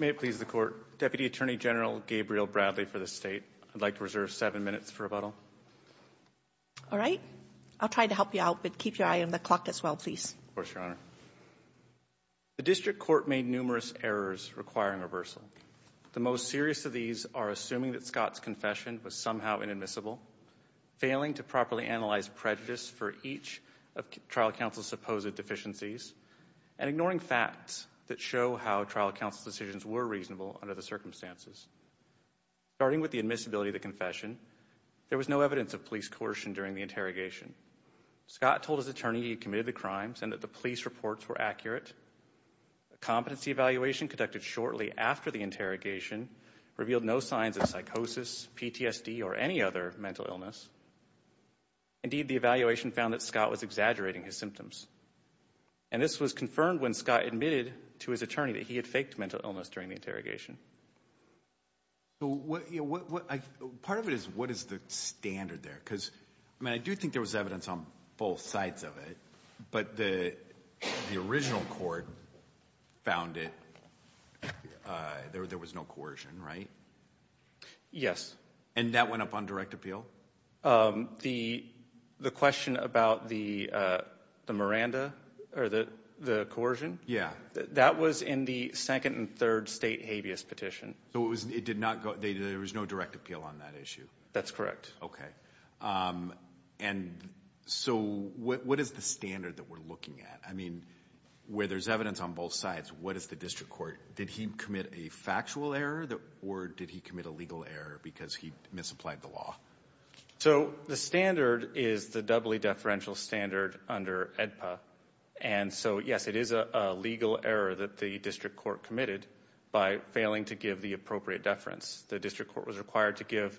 May it please the Court, Deputy Attorney General Gabriel Bradley for the State. I'd like to reserve seven minutes for rebuttal. All right. I'll try to help you out, but keep your eye on the clock as well, please. Of course, Your Honor. The District Court made numerous errors requiring reversal. The most serious of these are assuming that Scott's confession was somehow inadmissible, failing to properly analyze prejudice for each of trial counsel's supposed deficiencies, and ignoring facts that show how trial counsel's decisions were reasonable under the circumstances. Starting with the admissibility of the confession, there was no evidence of police coercion during the interrogation. Scott told his attorney he committed the crimes and that the police reports were accurate. A competency evaluation conducted shortly after the interrogation revealed no signs of psychosis, PTSD, or any other mental illness. Indeed, the evaluation found that Scott was exaggerating his symptoms. And this was confirmed when Scott admitted to his attorney that he had faked mental illness during the interrogation. Part of it is what is the standard there? Because, I mean, I do think there was evidence on both sides of it, but the original court found it, there was no coercion, right? Yes. And that went up on direct appeal? The question about the Miranda, or the coercion? Yeah. That was in the second and third state habeas petition. So it did not go, there was no direct appeal on that issue? That's correct. Okay. And so what is the standard that we're looking at? I mean, where there's evidence on both sides, what is the district court? Did he commit a factual error or did he commit a legal error because he misapplied the law? So the standard is the doubly deferential standard under AEDPA. And so, yes, it is a legal error that the district court committed by failing to give the appropriate deference. The district court was required to give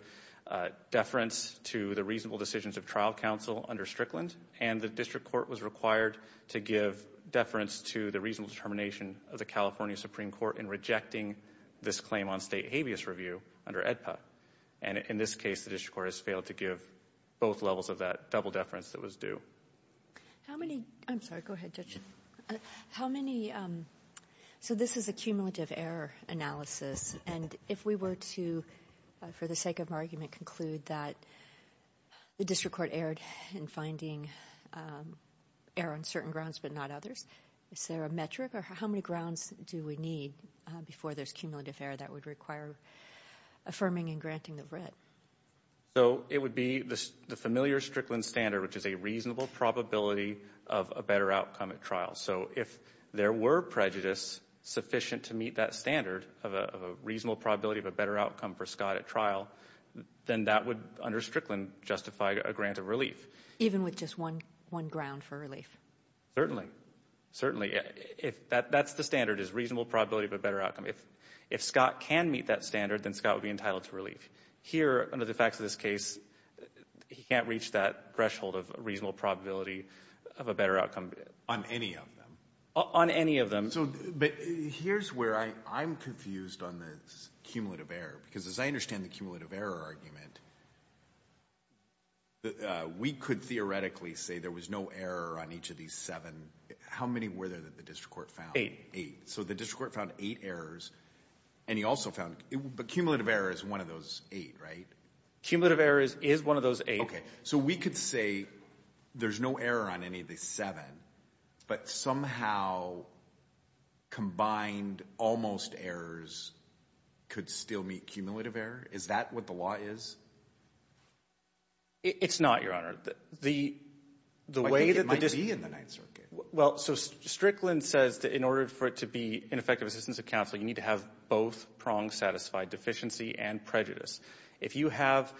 deference to the reasonable decisions of trial counsel under Strickland, and the district court was required to give deference to the reasonable determination of the California Supreme Court in rejecting this claim on state habeas review under AEDPA. And in this case, the district court has failed to give both levels of that double deference that was due. How many, I'm sorry, go ahead, Judge. How many, so this is a cumulative error analysis, and if we were to, for the sake of argument, conclude that the district court erred in finding error on certain grounds but not others, is there a metric or how many grounds do we need before there's cumulative error that would require affirming and granting the writ? So it would be the familiar Strickland standard, which is a reasonable probability of a better outcome at trial. So if there were prejudice sufficient to meet that standard of a reasonable probability of a better outcome for Scott at trial, then that would, under Strickland, justify a grant of relief. Even with just one ground for relief? Certainly. Certainly. That's the standard, is reasonable probability of a better outcome. If Scott can meet that standard, then Scott would be entitled to relief. Here, under the facts of this case, he can't reach that threshold of reasonable probability of a better outcome. On any of them? On any of them. But here's where I'm confused on this cumulative error, because as I understand the cumulative error argument, we could theoretically say there was no error on each of these seven. How many were there that the district court found? Eight. Eight. So the district court found eight errors, and he also found cumulative error is one of those eight, right? Cumulative error is one of those eight. Okay. So we could say there's no error on any of these seven, but somehow combined almost errors could still meet cumulative error? Is that what the law is? It's not, Your Honor. I think it might be in the Ninth Circuit. Well, so Strickland says that in order for it to be an effective assistance of counsel, you need to have both prong-satisfied deficiency and prejudice. If you have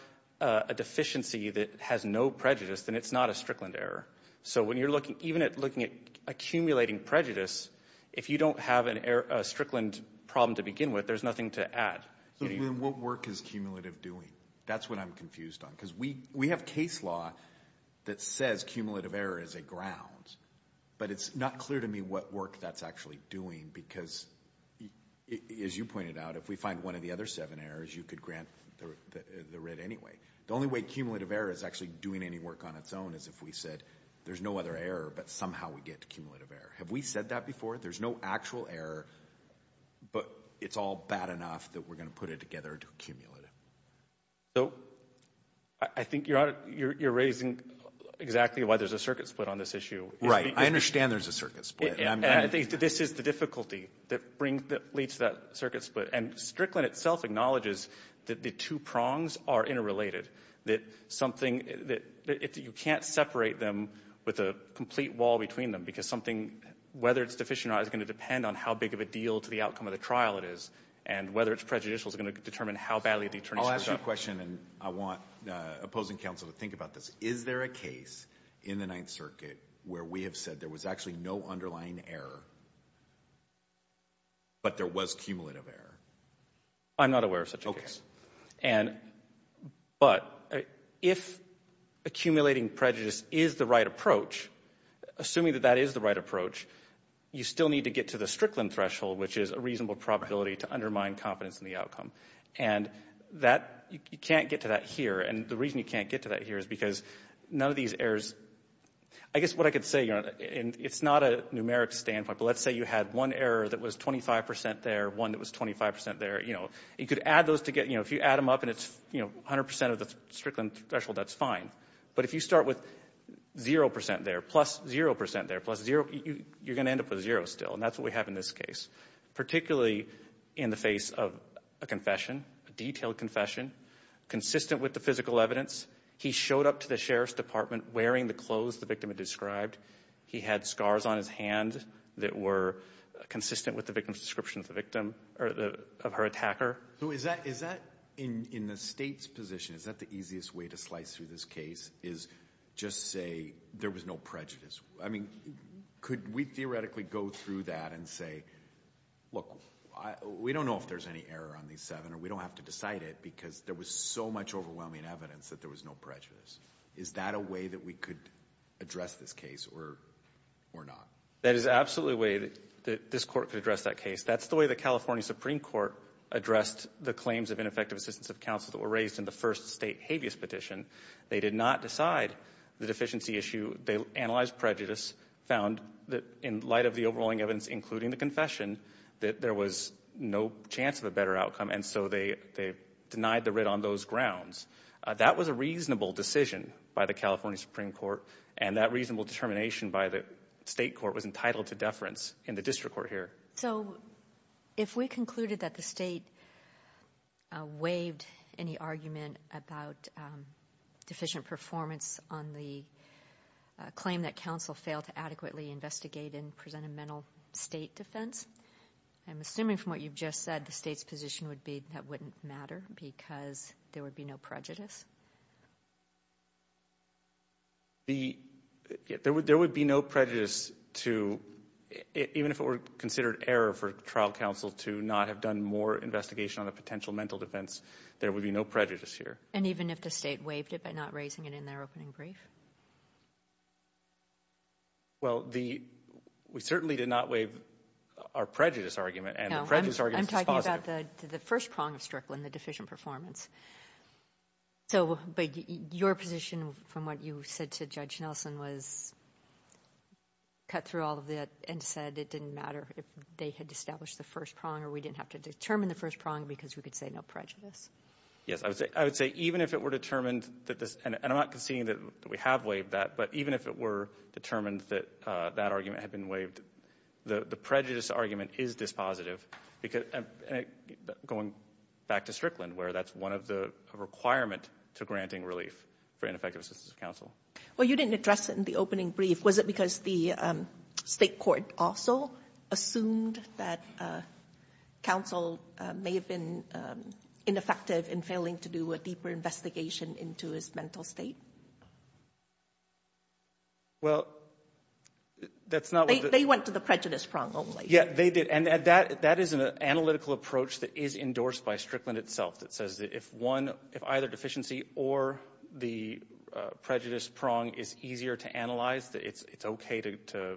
a deficiency that has no prejudice, then it's not a Strickland error. So when you're looking, even at looking at accumulating prejudice, if you don't have a Strickland problem to begin with, there's nothing to add. Then what work is cumulative doing? That's what I'm confused on, because we have case law that says cumulative error is a ground. But it's not clear to me what work that's actually doing, because as you pointed out, if we find one of the other seven errors, you could grant the writ anyway. The only way cumulative error is actually doing any work on its own is if we said there's no other error, but somehow we get to cumulative error. Have we said that before? There's no actual error, but it's all bad enough that we're going to put it together to accumulate it. So I think you're raising exactly why there's a circuit split on this issue. I understand there's a circuit split. This is the difficulty that leads to that circuit split. And Strickland itself acknowledges that the two prongs are interrelated, that something that you can't separate them with a complete wall between them, because something, whether it's deficient or not, is going to depend on how big of a deal to the outcome of the trial it is, and whether it's prejudicial is going to determine how badly the attorney's going to judge. I'll ask you a question, and I want opposing counsel to think about this. Is there a case in the Ninth Circuit where we have said there was actually no underlying error, but there was cumulative error? I'm not aware of such a case. But if accumulating prejudice is the right approach, assuming that that is the right approach, you still need to get to the Strickland threshold, which is a reasonable probability to undermine confidence in the outcome. And that, you can't get to that here. And the reason you can't get to that here is because none of these errors, I guess what I could say, and it's not a numeric standpoint, but let's say you had one error that was 25 percent there, one that was 25 percent there. You could add those together. If you add them up and it's 100 percent of the Strickland threshold, that's fine. But if you start with zero percent there, plus zero percent there, plus zero, you're going to end up with zero still, and that's what we have in this case, particularly in the face of a confession, a detailed confession, consistent with the physical evidence. He showed up to the sheriff's department wearing the clothes the victim had described. He had scars on his hand that were consistent with the victim's description of the victim or of her attacker. So is that, in the State's position, is that the easiest way to slice through this case is just say there was no prejudice? I mean, could we theoretically go through that and say, look, we don't know if there's any error on these seven or we don't have to decide it because there was so much overwhelming evidence that there was no prejudice. Is that a way that we could address this case or not? That is absolutely a way that this Court could address that case. That's the way the California Supreme Court addressed the claims of ineffective assistance of counsel that were raised in the first State habeas petition. They did not decide the deficiency issue. They analyzed prejudice, found that in light of the overwhelming evidence, including the confession, that there was no chance of a better outcome, and so they denied the writ on those grounds. That was a reasonable decision by the California Supreme Court, and that reasonable determination by the State court was entitled to deference in the district court here. So if we concluded that the State waived any argument about deficient performance on the claim that counsel failed to adequately investigate and present a mental State defense, I'm assuming from what you've just said the State's position would be that wouldn't matter because there would be no prejudice? There would be no prejudice even if it were considered error for trial counsel to not have done more investigation on a potential mental defense. There would be no prejudice here. And even if the State waived it by not raising it in their opening brief? Well, we certainly did not waive our prejudice argument, and the prejudice argument is positive. No, I'm talking about the first prong of Strickland, the deficient performance. So but your position from what you said to Judge Nelson was cut through all of that and said it didn't matter if they had established the first prong or we didn't have to determine the first prong because we could say no prejudice. Yes, I would say even if it were determined that this, and I'm not conceding that we have waived that, but even if it were determined that that argument had been waived, the prejudice argument is dispositive. Going back to Strickland where that's one of the requirements to granting relief for ineffective assistance of counsel. Well, you didn't address it in the opening brief. Was it because the state court also assumed that counsel may have been ineffective in failing to do a deeper investigation into his mental state? Well, that's not what the— They went to the prejudice prong only. Yeah, they did. And that is an analytical approach that is endorsed by Strickland itself that says that if either deficiency or the prejudice prong is easier to analyze, it's okay to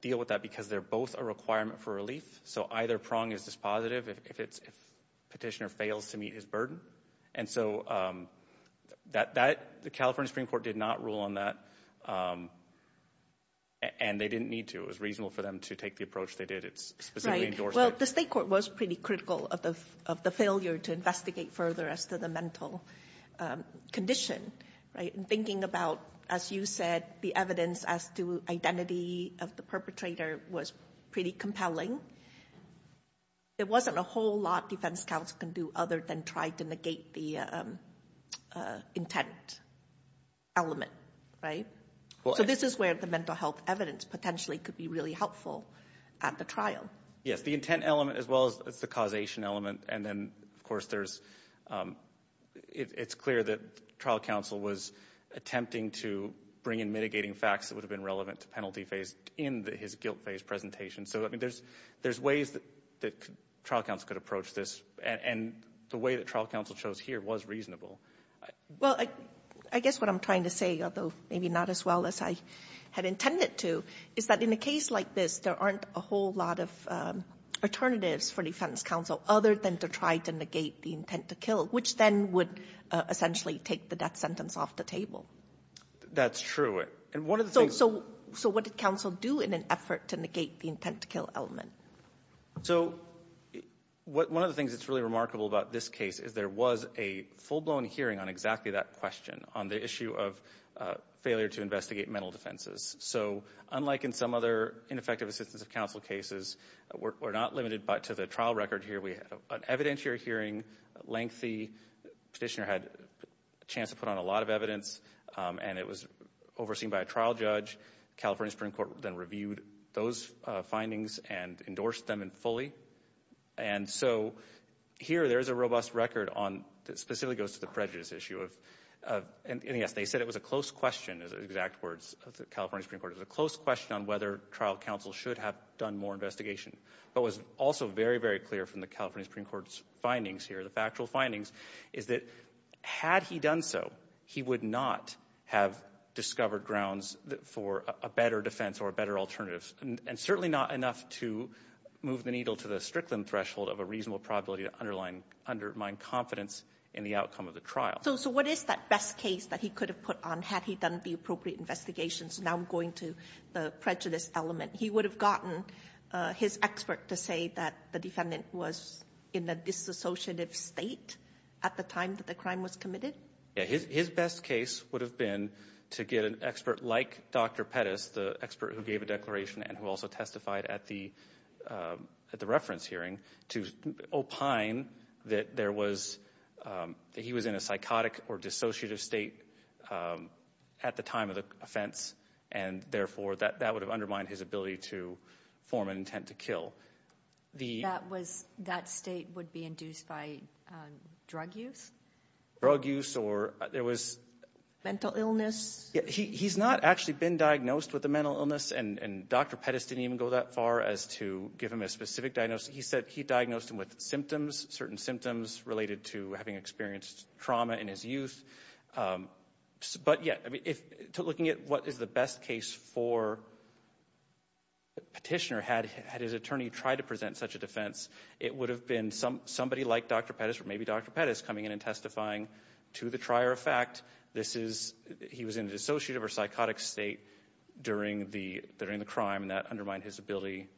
deal with that because they're both a requirement for relief. So either prong is dispositive if petitioner fails to meet his burden. And so the California Supreme Court did not rule on that, and they didn't need to. It was reasonable for them to take the approach they did. It's specifically endorsed by— Well, the state court was pretty critical of the failure to investigate further as to the mental condition, right, in thinking about, as you said, the evidence as to identity of the perpetrator was pretty compelling. There wasn't a whole lot defense counsel can do other than try to negate the intent element, right? So this is where the mental health evidence potentially could be really helpful at the trial. Yes, the intent element as well as the causation element, and then, of course, it's clear that trial counsel was attempting to bring in mitigating facts that would have been relevant to penalty phase in his guilt phase presentation. So, I mean, there's ways that trial counsel could approach this, and the way that trial counsel chose here was reasonable. Well, I guess what I'm trying to say, although maybe not as well as I had intended to, is that in a case like this, there aren't a whole lot of alternatives for defense counsel other than to try to negate the intent to kill, which then would essentially take the death sentence off the table. That's true. And one of the things— So what did counsel do in an effort to negate the intent to kill element? So one of the things that's really remarkable about this case is there was a full-blown hearing on exactly that question on the issue of failure to investigate mental defenses. So unlike in some other ineffective assistance of counsel cases, we're not limited to the trial record here. We had an evidentiary hearing, lengthy. Petitioner had a chance to put on a lot of evidence, and it was overseen by a trial judge. California Supreme Court then reviewed those findings and endorsed them fully. And so here there is a robust record that specifically goes to the prejudice issue. And, yes, they said it was a close question, as exact words of the California Supreme Court, it was a close question on whether trial counsel should have done more investigation but was also very, very clear from the California Supreme Court's findings here, the factual findings, is that had he done so, he would not have discovered grounds for a better defense or a better alternative, and certainly not enough to move the needle to the Strickland threshold of a reasonable probability to undermine confidence in the outcome of the trial. So what is that best case that he could have put on had he done the appropriate investigation? So now I'm going to the prejudice element. He would have gotten his expert to say that the defendant was in a disassociative state at the time that the crime was committed? Yes, his best case would have been to get an expert like Dr. Pettis, the expert who gave a declaration and who also testified at the reference hearing, to opine that he was in a psychotic or dissociative state at the time of the offense, and therefore that would have undermined his ability to form an intent to kill. That state would be induced by drug use? Drug use or there was – Mental illness? He's not actually been diagnosed with a mental illness, and Dr. Pettis didn't even go that far as to give him a specific diagnosis. He said he diagnosed him with symptoms, certain symptoms related to having experienced trauma in his youth. But, yeah, looking at what is the best case for the petitioner, had his attorney tried to present such a defense, it would have been somebody like Dr. Pettis or maybe Dr. Pettis coming in and testifying to the trier of fact. He was in a dissociative or psychotic state during the crime, and that undermined his ability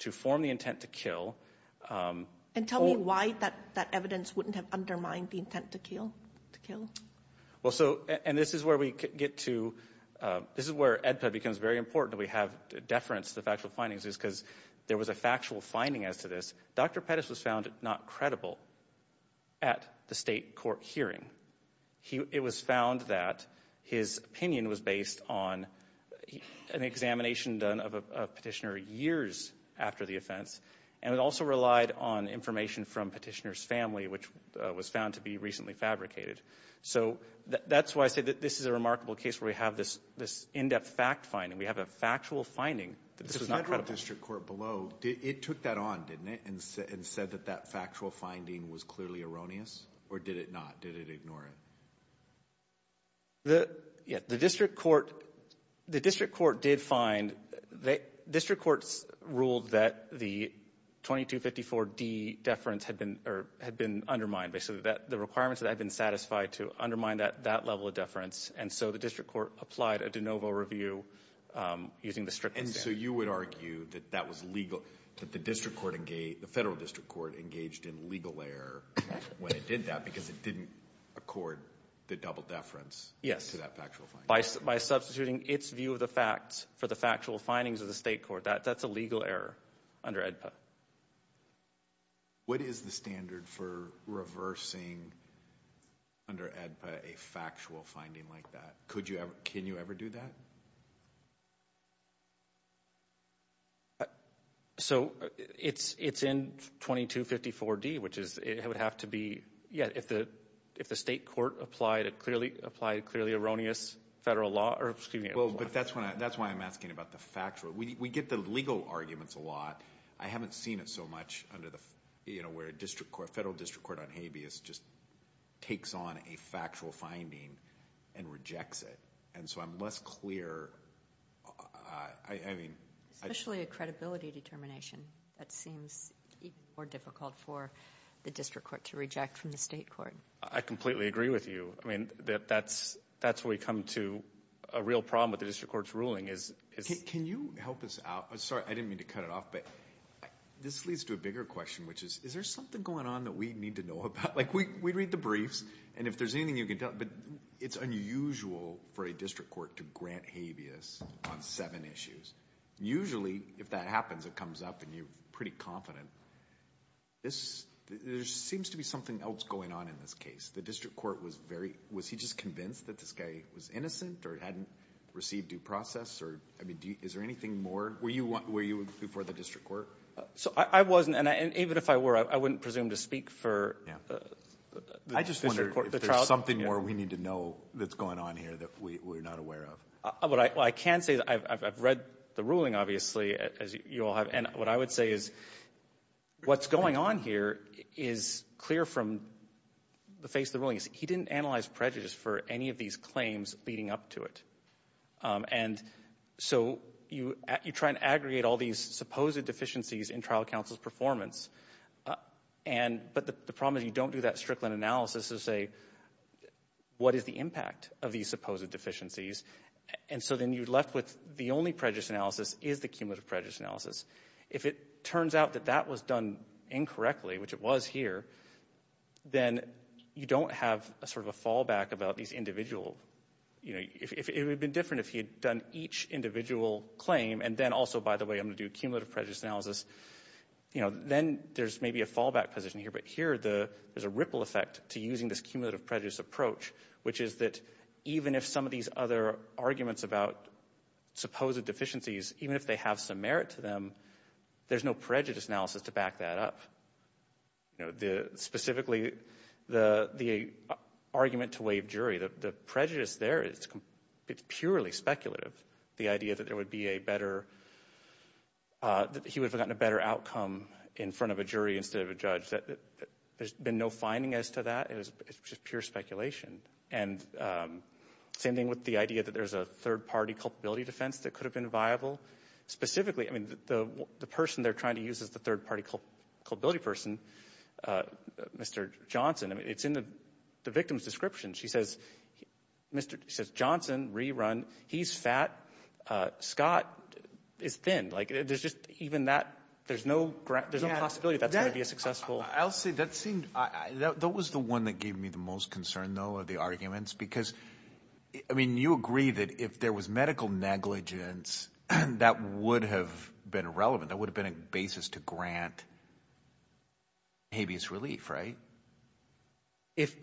to form the intent to kill. And tell me why that evidence wouldn't have undermined the intent to kill. Well, so – and this is where we get to – this is where EDPED becomes very important that we have deference to factual findings because there was a factual finding as to this. Dr. Pettis was found not credible at the state court hearing. It was found that his opinion was based on an examination done of a petitioner years after the offense, and it also relied on information from petitioner's family, which was found to be recently fabricated. So that's why I say that this is a remarkable case where we have this in-depth fact finding. We have a factual finding that this was not credible. The federal district court below, it took that on, didn't it, and said that that factual finding was clearly erroneous, or did it not? Did it ignore it? The district court did find – district courts ruled that the 2254D deference had been undermined. They said that the requirements had been satisfied to undermine that level of deference, and so the district court applied a de novo review using the strictness standard. And so you would argue that that was legal, that the federal district court engaged in legal error when it did that because it didn't accord the double deference to that factual finding? Yes, by substituting its view of the facts for the factual findings of the state court. That's a legal error under EDPED. What is the standard for reversing under EDPED a factual finding like that? Can you ever do that? So it's in 2254D, which would have to be – yeah, if the state court applied a clearly erroneous federal law. But that's why I'm asking about the factual. We get the legal arguments a lot. I haven't seen it so much under the – where a federal district court on habeas just takes on a factual finding and rejects it. And so I'm less clear. Especially a credibility determination. That seems even more difficult for the district court to reject from the state court. I completely agree with you. I mean, that's where we come to a real problem with the district court's ruling is – Can you help us out? Sorry, I didn't mean to cut it off, but this leads to a bigger question, which is, is there something going on that we need to know about? Like, we read the briefs, and if there's anything you can tell – but it's unusual for a district court to grant habeas on seven issues. Usually, if that happens, it comes up and you're pretty confident. There seems to be something else going on in this case. The district court was very – was he just convinced that this guy was innocent or hadn't received due process? Is there anything more? Were you before the district court? I wasn't, and even if I were, I wouldn't presume to speak for – I just wonder if there's something more we need to know that's going on here that we're not aware of. I can say that I've read the ruling, obviously, as you all have, and what I would say is what's going on here is clear from the face of the ruling. He didn't analyze prejudice for any of these claims leading up to it. And so you try and aggregate all these supposed deficiencies in trial counsel's performance, but the problem is you don't do that Strickland analysis to say, what is the impact of these supposed deficiencies? And so then you're left with the only prejudice analysis is the cumulative prejudice analysis. If it turns out that that was done incorrectly, which it was here, then you don't have sort of a fallback about these individual – it would have been different if he had done each individual claim, and then also, by the way, I'm going to do cumulative prejudice analysis. Then there's maybe a fallback position here, but here there's a ripple effect to using this cumulative prejudice approach, which is that even if some of these other arguments about supposed deficiencies, even if they have some merit to them, there's no prejudice analysis to back that up. Specifically, the argument to waive jury, the prejudice there is purely speculative. The idea that there would be a better – that he would have gotten a better outcome in front of a jury instead of a judge, there's been no finding as to that. It's just pure speculation. And same thing with the idea that there's a third-party culpability defense that could have been viable. Specifically, the person they're trying to use as the third-party culpability person, Mr. Johnson, it's in the victim's description. She says Johnson, rerun, he's fat. Scott is thin. There's just even that – there's no possibility that that's going to be a successful – I'll say that seemed – that was the one that gave me the most concern, though, are the arguments, because, I mean, you agree that if there was medical negligence, that would have been irrelevant. That would have been a basis to grant habeas relief, right? If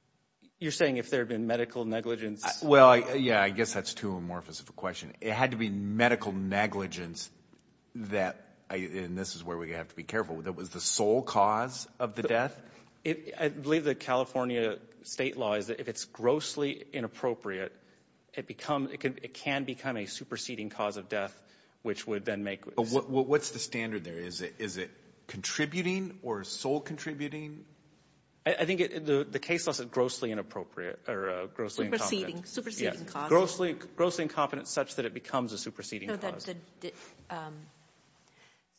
– you're saying if there had been medical negligence? Well, yeah, I guess that's too amorphous of a question. It had to be medical negligence that – and this is where we have to be careful – that was the sole cause of the death? I believe the California State law is that if it's grossly inappropriate, it becomes – it can become a superseding cause of death, which would then make – But what's the standard there? Is it contributing or sole contributing? I think the case law says grossly inappropriate or grossly incompetent. Superseding cause. Grossly incompetent such that it becomes a superseding cause.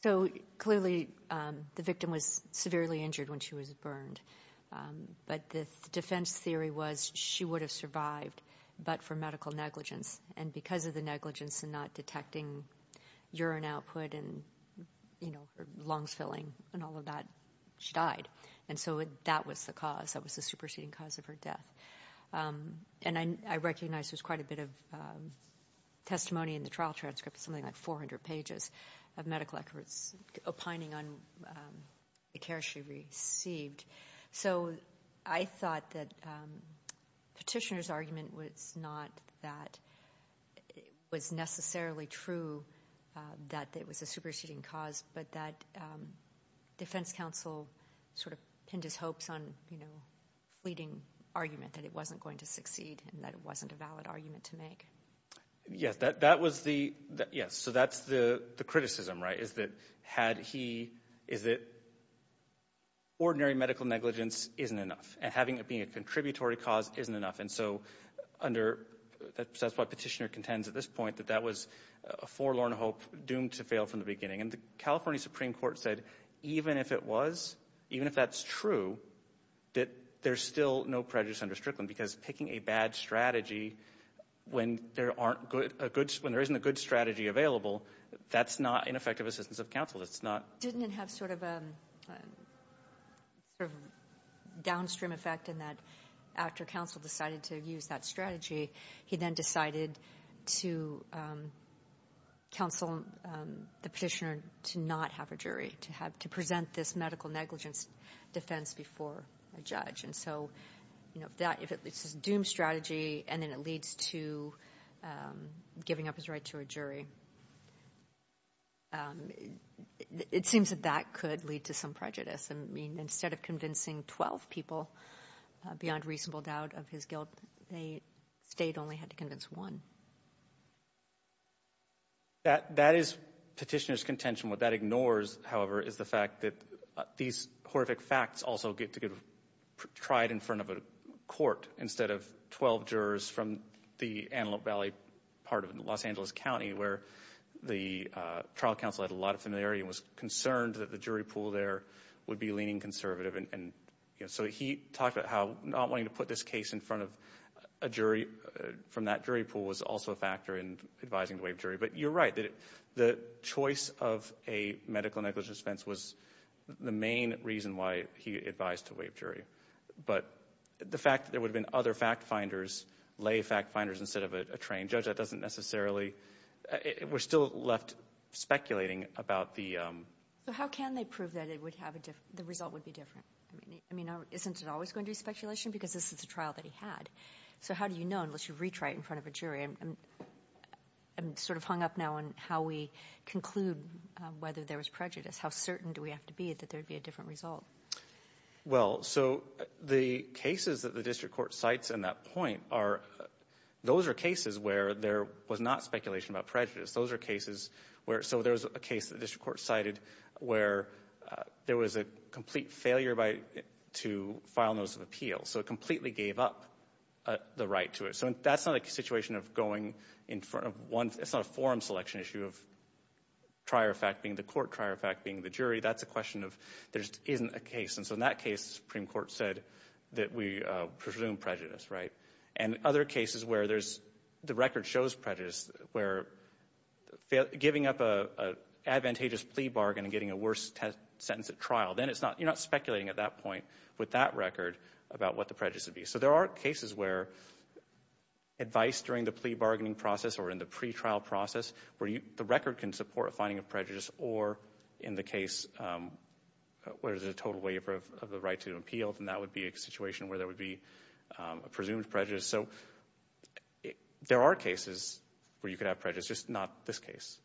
So clearly the victim was severely injured when she was burned, but the defense theory was she would have survived but for medical negligence. And because of the negligence and not detecting urine output and, you know, her lungs filling and all of that, she died. And so that was the cause. That was the superseding cause of her death. And I recognize there's quite a bit of testimony in the trial transcript, something like 400 pages of medical records opining on the care she received. So I thought that Petitioner's argument was not that it was necessarily true that it was a superseding cause, but that defense counsel sort of pinned his hopes on, you know, fleeting argument that it wasn't going to succeed and that it wasn't a valid argument to make. Yes, that was the – yes. So that's the criticism, right, is that had he – is that ordinary medical negligence isn't enough and having it be a contributory cause isn't enough. And so under – that's why Petitioner contends at this point that that was a forlorn hope doomed to fail from the beginning. And the California Supreme Court said even if it was, even if that's true, that there's still no prejudice under Strickland because picking a bad strategy when there aren't good – when there isn't a good strategy available, that's not an effective assistance of counsel. That's not – Didn't it have sort of a sort of downstream effect in that after counsel decided to use that strategy, he then decided to counsel the petitioner to not have a jury, to have – to present this medical negligence defense before a judge. And so, you know, if that – if it's a doomed strategy and then it leads to giving up his right to a jury, it seems that that could lead to some prejudice. I mean, instead of convincing 12 people beyond reasonable doubt of his guilt, the state only had to convince one. That is Petitioner's contention. What that ignores, however, is the fact that these horrific facts also get to get tried in front of a court instead of 12 jurors from the Antelope Valley part of Los Angeles County where the trial counsel had a lot of familiarity and was concerned that the jury pool there would be leaning conservative. And so he talked about how not wanting to put this case in front of a jury from that jury pool was also a factor in advising the waived jury. But you're right. The choice of a medical negligence defense was the main reason why he advised to waive jury. But the fact that there would have been other fact-finders, lay fact-finders instead of a trained judge, that doesn't necessarily—we're still left speculating about the— So how can they prove that the result would be different? I mean, isn't it always going to be speculation because this is a trial that he had? So how do you know unless you reach right in front of a jury? I'm sort of hung up now on how we conclude whether there was prejudice. How certain do we have to be that there would be a different result? Well, so the cases that the district court cites in that point are— those are cases where there was not speculation about prejudice. Those are cases where—so there was a case that the district court cited where there was a complete failure to file notice of appeal. So it completely gave up the right to it. So that's not a situation of going in front of one— it's not a forum selection issue of trier of fact being the court, trier of fact being the jury. That's a question of there isn't a case. And so in that case, the Supreme Court said that we presume prejudice, right? And other cases where there's—the record shows prejudice, where giving up an advantageous plea bargain and getting a worse sentence at trial, then it's not—you're not speculating at that point with that record about what the prejudice would be. So there are cases where advice during the plea bargaining process or in the pretrial process where the record can support finding of prejudice or in the case where there's a total waiver of the right to appeal, then that would be a situation where there would be a presumed prejudice. So there are cases where you could have prejudice, just not this case.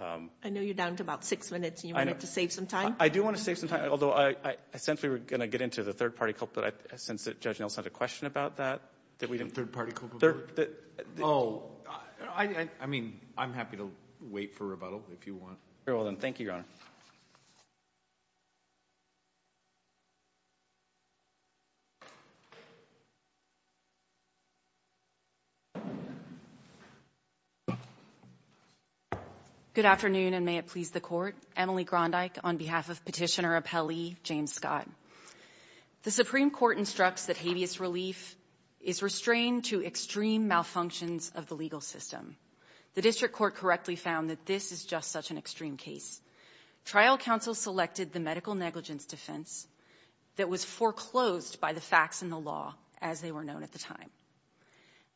I know you're down to about six minutes, and you wanted to save some time. I do want to save some time, although I sensed we were going to get into the third-party culprit. I sensed that Judge Nelson had a question about that. The third-party culprit? Oh, I mean, I'm happy to wait for rebuttal if you want. Very well, then. Thank you, Your Honor. Good afternoon, and may it please the Court. Emily Grondyke on behalf of Petitioner Appellee James Scott. The Supreme Court instructs that habeas relief is restrained to extreme malfunctions of the legal system. The district court correctly found that this is just such an extreme case. Trial counsel selected the medical negligence defense that was foreclosed by the facts and the law as they were known at the time.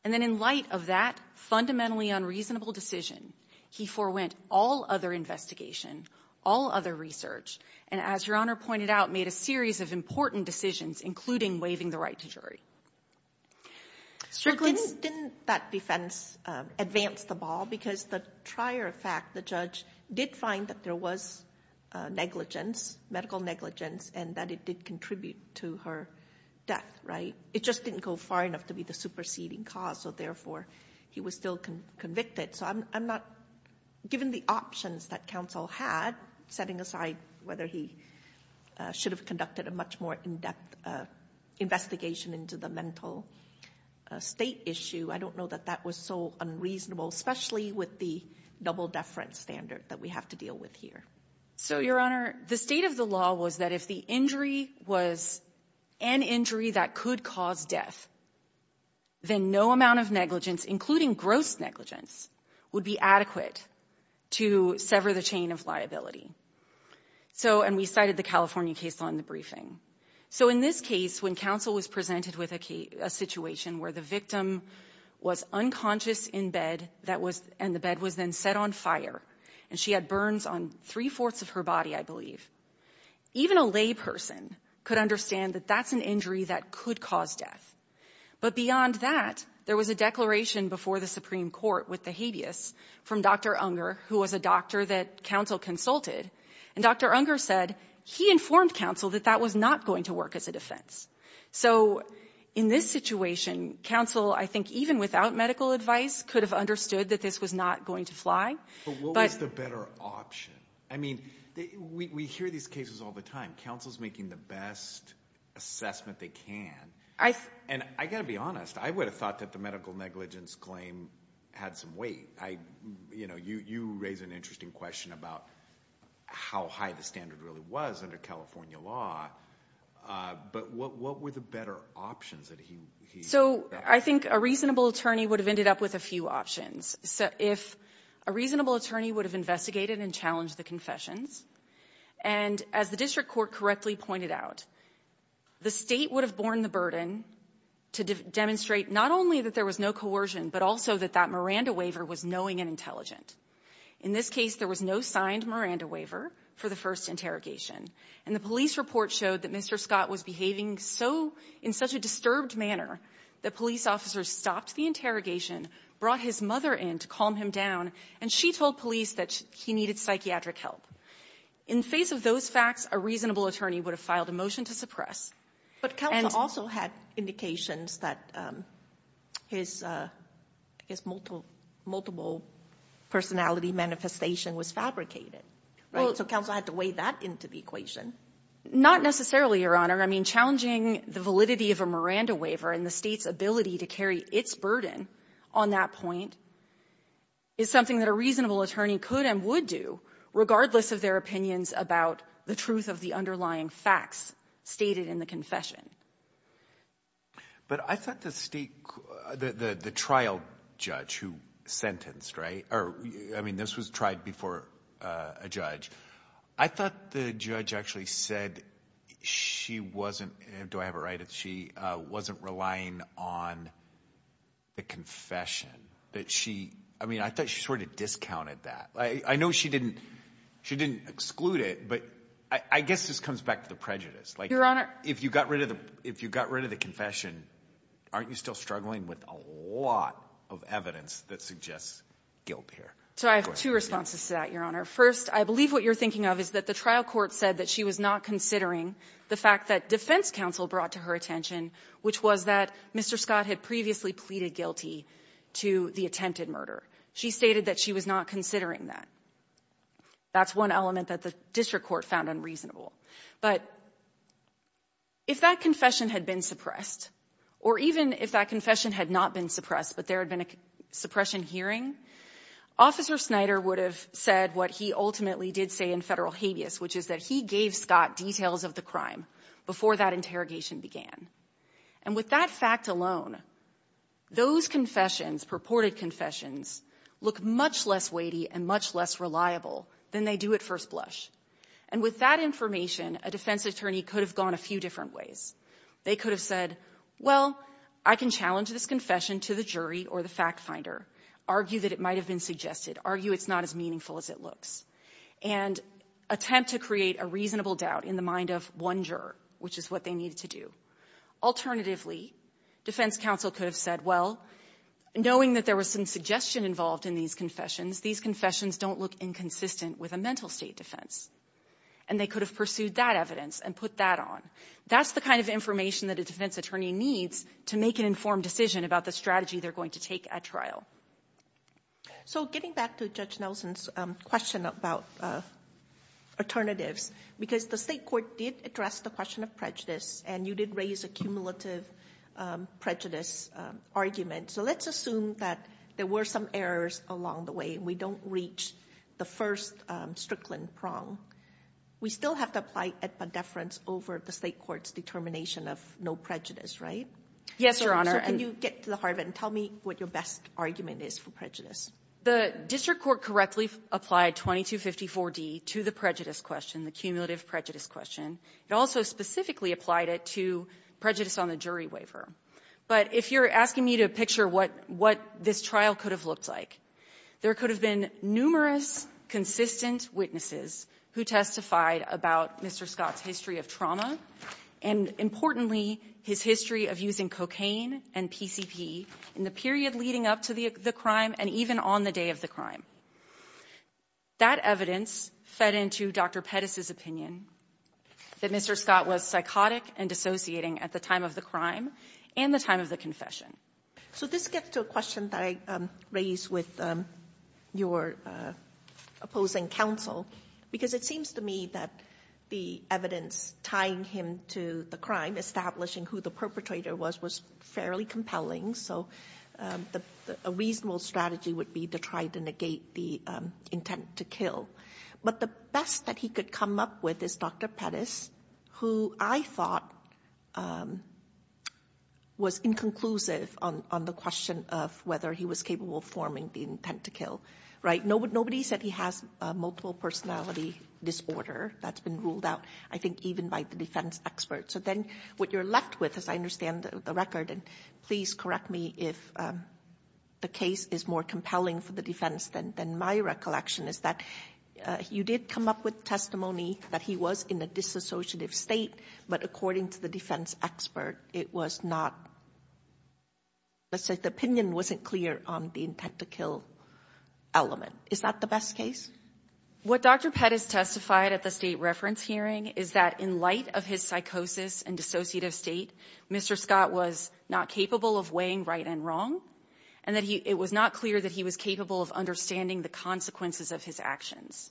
And then in light of that fundamentally unreasonable decision, he forewent all other investigation, all other research, and as Your Honor pointed out, made a series of important decisions, including waiving the right to jury. Didn't that defense advance the ball? Because the prior fact, the judge did find that there was negligence, medical negligence, and that it did contribute to her death, right? It just didn't go far enough to be the superseding cause, so therefore he was still convicted. So I'm not given the options that counsel had, setting aside whether he should have conducted a much more in-depth investigation into the mental state issue. I don't know that that was so unreasonable, especially with the double-deference standard that we have to deal with here. So, Your Honor, the state of the law was that if the injury was an injury that could cause death, then no amount of negligence, including gross negligence, would be adequate to sever the chain of liability. So, and we cited the California case law in the briefing. So in this case, when counsel was presented with a situation where the victim was unconscious in bed and the bed was then set on fire, and she had burns on three-fourths of her body, I believe, even a layperson could understand that that's an injury that could cause death. But beyond that, there was a declaration before the Supreme Court with the habeas from Dr. Unger, who was a doctor that counsel consulted. And Dr. Unger said he informed counsel that that was not going to work as a defense. So in this situation, counsel, I think even without medical advice, could have understood that this was not going to fly. But what was the better option? I mean, we hear these cases all the time. Counsel's making the best assessment they can. And I've got to be honest. I would have thought that the medical negligence claim had some weight. You know, you raise an interesting question about how high the standard really was under California law. But what were the better options that he thought? So I think a reasonable attorney would have ended up with a few options. If a reasonable attorney would have investigated and challenged the confessions. And as the district court correctly pointed out, the State would have borne the burden to demonstrate not only that there was no coercion, but also that that Miranda waiver was knowing and intelligent. In this case, there was no signed Miranda waiver for the first interrogation. And the police report showed that Mr. Scott was behaving so — in such a disturbed manner that police officers stopped the interrogation, brought his mother in to calm him down, and she told police that he needed psychiatric help. In face of those facts, a reasonable attorney would have filed a motion to suppress. But counsel also had indications that his, I guess, multiple personality manifestation was fabricated, right? So counsel had to weigh that into the equation. Not necessarily, Your Honor. I mean, challenging the validity of a Miranda waiver and the State's ability to carry its burden on that point is something that a reasonable attorney could and would do, regardless of their opinions about the truth of the underlying facts stated in the confession. But I thought the State — the trial judge who sentenced, right? Or, I mean, this was tried before a judge. I thought the judge actually said she wasn't — do I have it right? That she wasn't relying on the confession. That she — I mean, I thought she sort of discounted that. I know she didn't exclude it, but I guess this comes back to the prejudice. Your Honor — Like, if you got rid of the confession, aren't you still struggling with a lot of evidence that suggests guilt here? So I have two responses to that, Your Honor. First, I believe what you're thinking of is that the trial court said that she was not considering the fact that defense counsel brought to her attention, which was that Mr. Scott had previously pleaded guilty to the attempted murder. She stated that she was not considering that. That's one element that the district court found unreasonable. But if that confession had been suppressed, or even if that confession had not been suppressed, but there had been a suppression hearing, Officer Snyder would have said what he ultimately did say in federal habeas, which is that he gave Scott details of the crime before that interrogation began. And with that fact alone, those confessions, purported confessions, look much less weighty and much less reliable than they do at first blush. And with that information, a defense attorney could have gone a few different ways. They could have said, well, I can challenge this confession to the jury or the fact finder, argue that it might have been suggested, argue it's not as meaningful as it looks, and attempt to create a reasonable doubt in the mind of one juror, which is what they needed to do. Alternatively, defense counsel could have said, well, knowing that there was some suggestion involved in these confessions, these confessions don't look inconsistent with a mental state defense. And they could have pursued that evidence and put that on. That's the kind of information that a defense attorney needs to make an informed decision about the strategy they're going to take at trial. So getting back to Judge Nelson's question about alternatives, because the state court did address the question of prejudice, and you did raise a cumulative prejudice argument. So let's assume that there were some errors along the way. We don't reach the first Strickland prong. We still have to apply a deference over the state court's determination of no prejudice, right? Yes, Your Honor. So can you get to the heart of it and tell me what your best argument is for prejudice? The district court correctly applied 2254d to the prejudice question, the cumulative prejudice question. It also specifically applied it to prejudice on the jury waiver. But if you're asking me to picture what this trial could have looked like, there could have been numerous consistent witnesses who testified about Mr. Scott's use of cocaine and PCP in the period leading up to the crime and even on the day of the crime. That evidence fed into Dr. Pettis' opinion that Mr. Scott was psychotic and dissociating at the time of the crime and the time of the confession. So this gets to a question that I raised with your opposing counsel, because it seems to me that the evidence tying him to the crime, establishing who the perpetrator was, was fairly compelling. So a reasonable strategy would be to try to negate the intent to kill. But the best that he could come up with is Dr. Pettis, who I thought was inconclusive on the question of whether he was capable of forming the intent to kill, right? Nobody said he has a multiple personality disorder. That's been ruled out, I think, even by the defense experts. So then what you're left with, as I understand the record, and please correct me if the case is more compelling for the defense than my recollection, is that you did come up with testimony that he was in a disassociative state, but according to the defense expert, it was not, let's say the opinion wasn't clear on the intent to kill element. Is that the best case? What Dr. Pettis testified at the state reference hearing is that in light of his psychosis and dissociative state, Mr. Scott was not capable of weighing right and wrong, and that it was not clear that he was capable of understanding the consequences of his actions.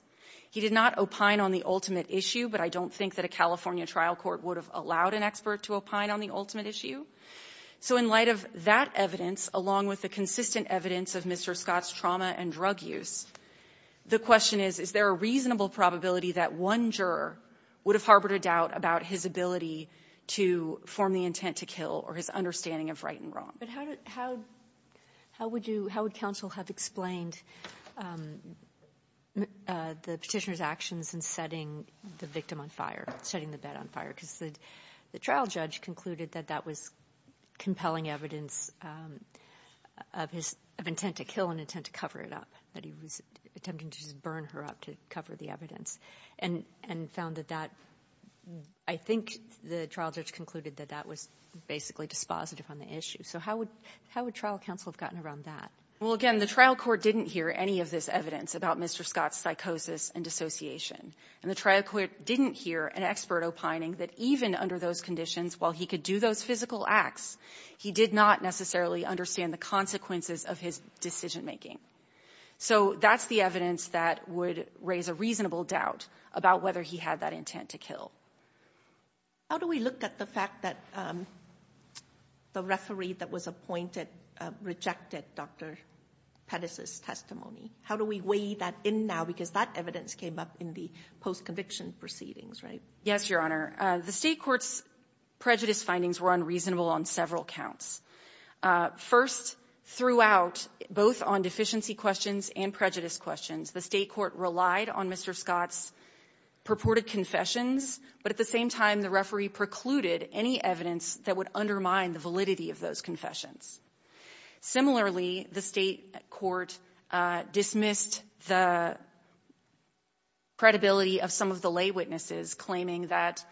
He did not opine on the ultimate issue, but I don't think that a California trial court would have allowed an expert to opine on the ultimate issue. So in light of that evidence, along with the consistent evidence of Mr. Scott's drug use, the question is, is there a reasonable probability that one juror would have harbored a doubt about his ability to form the intent to kill or his understanding of right and wrong? But how would you – how would counsel have explained the Petitioner's actions in setting the victim on fire, setting the bed on fire? Because the trial judge concluded that that was compelling evidence of his – of intent to kill and intent to cover it up, that he was attempting to just burn her up to cover the evidence, and found that that – I think the trial judge concluded that that was basically dispositive on the issue. So how would – how would trial counsel have gotten around that? Well, again, the trial court didn't hear any of this evidence about Mr. Scott's psychosis and dissociation, and the trial court didn't hear an expert opining that even under those conditions, while he could do those physical acts, he did not necessarily understand the consequences of his decision-making. So that's the evidence that would raise a reasonable doubt about whether he had that intent to kill. How do we look at the fact that the referee that was appointed rejected Dr. Pettis's testimony? How do we weigh that in now, because that evidence came up in the post-conviction proceedings, right? Yes, Your Honor. The State court's prejudice findings were unreasonable on several counts. First, throughout, both on deficiency questions and prejudice questions, the State court relied on Mr. Scott's purported confessions, but at the same time, the referee precluded any evidence that would undermine the validity of those confessions. Similarly, the State court dismissed the credibility of some of the lay witnesses claiming that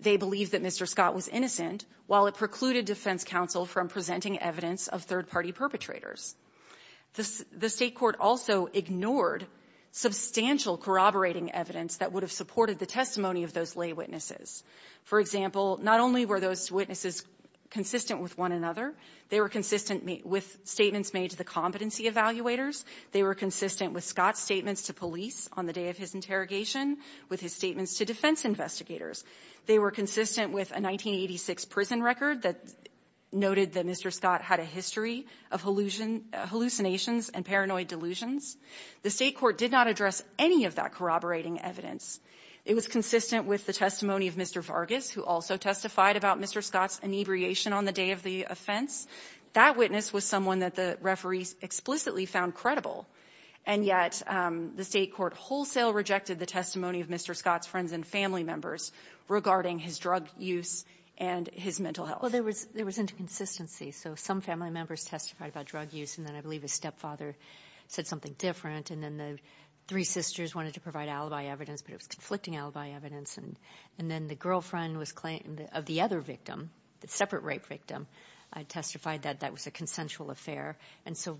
they believed that Mr. Scott was innocent, while it precluded defense counsel from presenting evidence of third-party perpetrators. The State court also ignored substantial corroborating evidence that would have supported the testimony of those lay witnesses. For example, not only were those witnesses consistent with one another, they were consistent with statements made to the competency evaluators. They were consistent with Scott's statements to police on the day of his interrogation, with his statements to defense investigators. They were consistent with a 1986 prison record that noted that Mr. Scott had a history of hallucinations and paranoid delusions. The State court did not address any of that corroborating evidence. It was consistent with the testimony of Mr. Vargas, who also testified about Mr. Scott's inebriation on the day of the offense. That witness was someone that the referees explicitly found credible, and yet the State court wholesale rejected the testimony of Mr. Scott's friends and family members regarding his drug use and his mental health. Well, there was inconsistency. So some family members testified about drug use, and then I believe his stepfather said something different, and then the three sisters wanted to provide alibi evidence, but it was conflicting alibi evidence. And then the girlfriend of the other victim, the separate rape victim, testified that that was a consensual affair. And so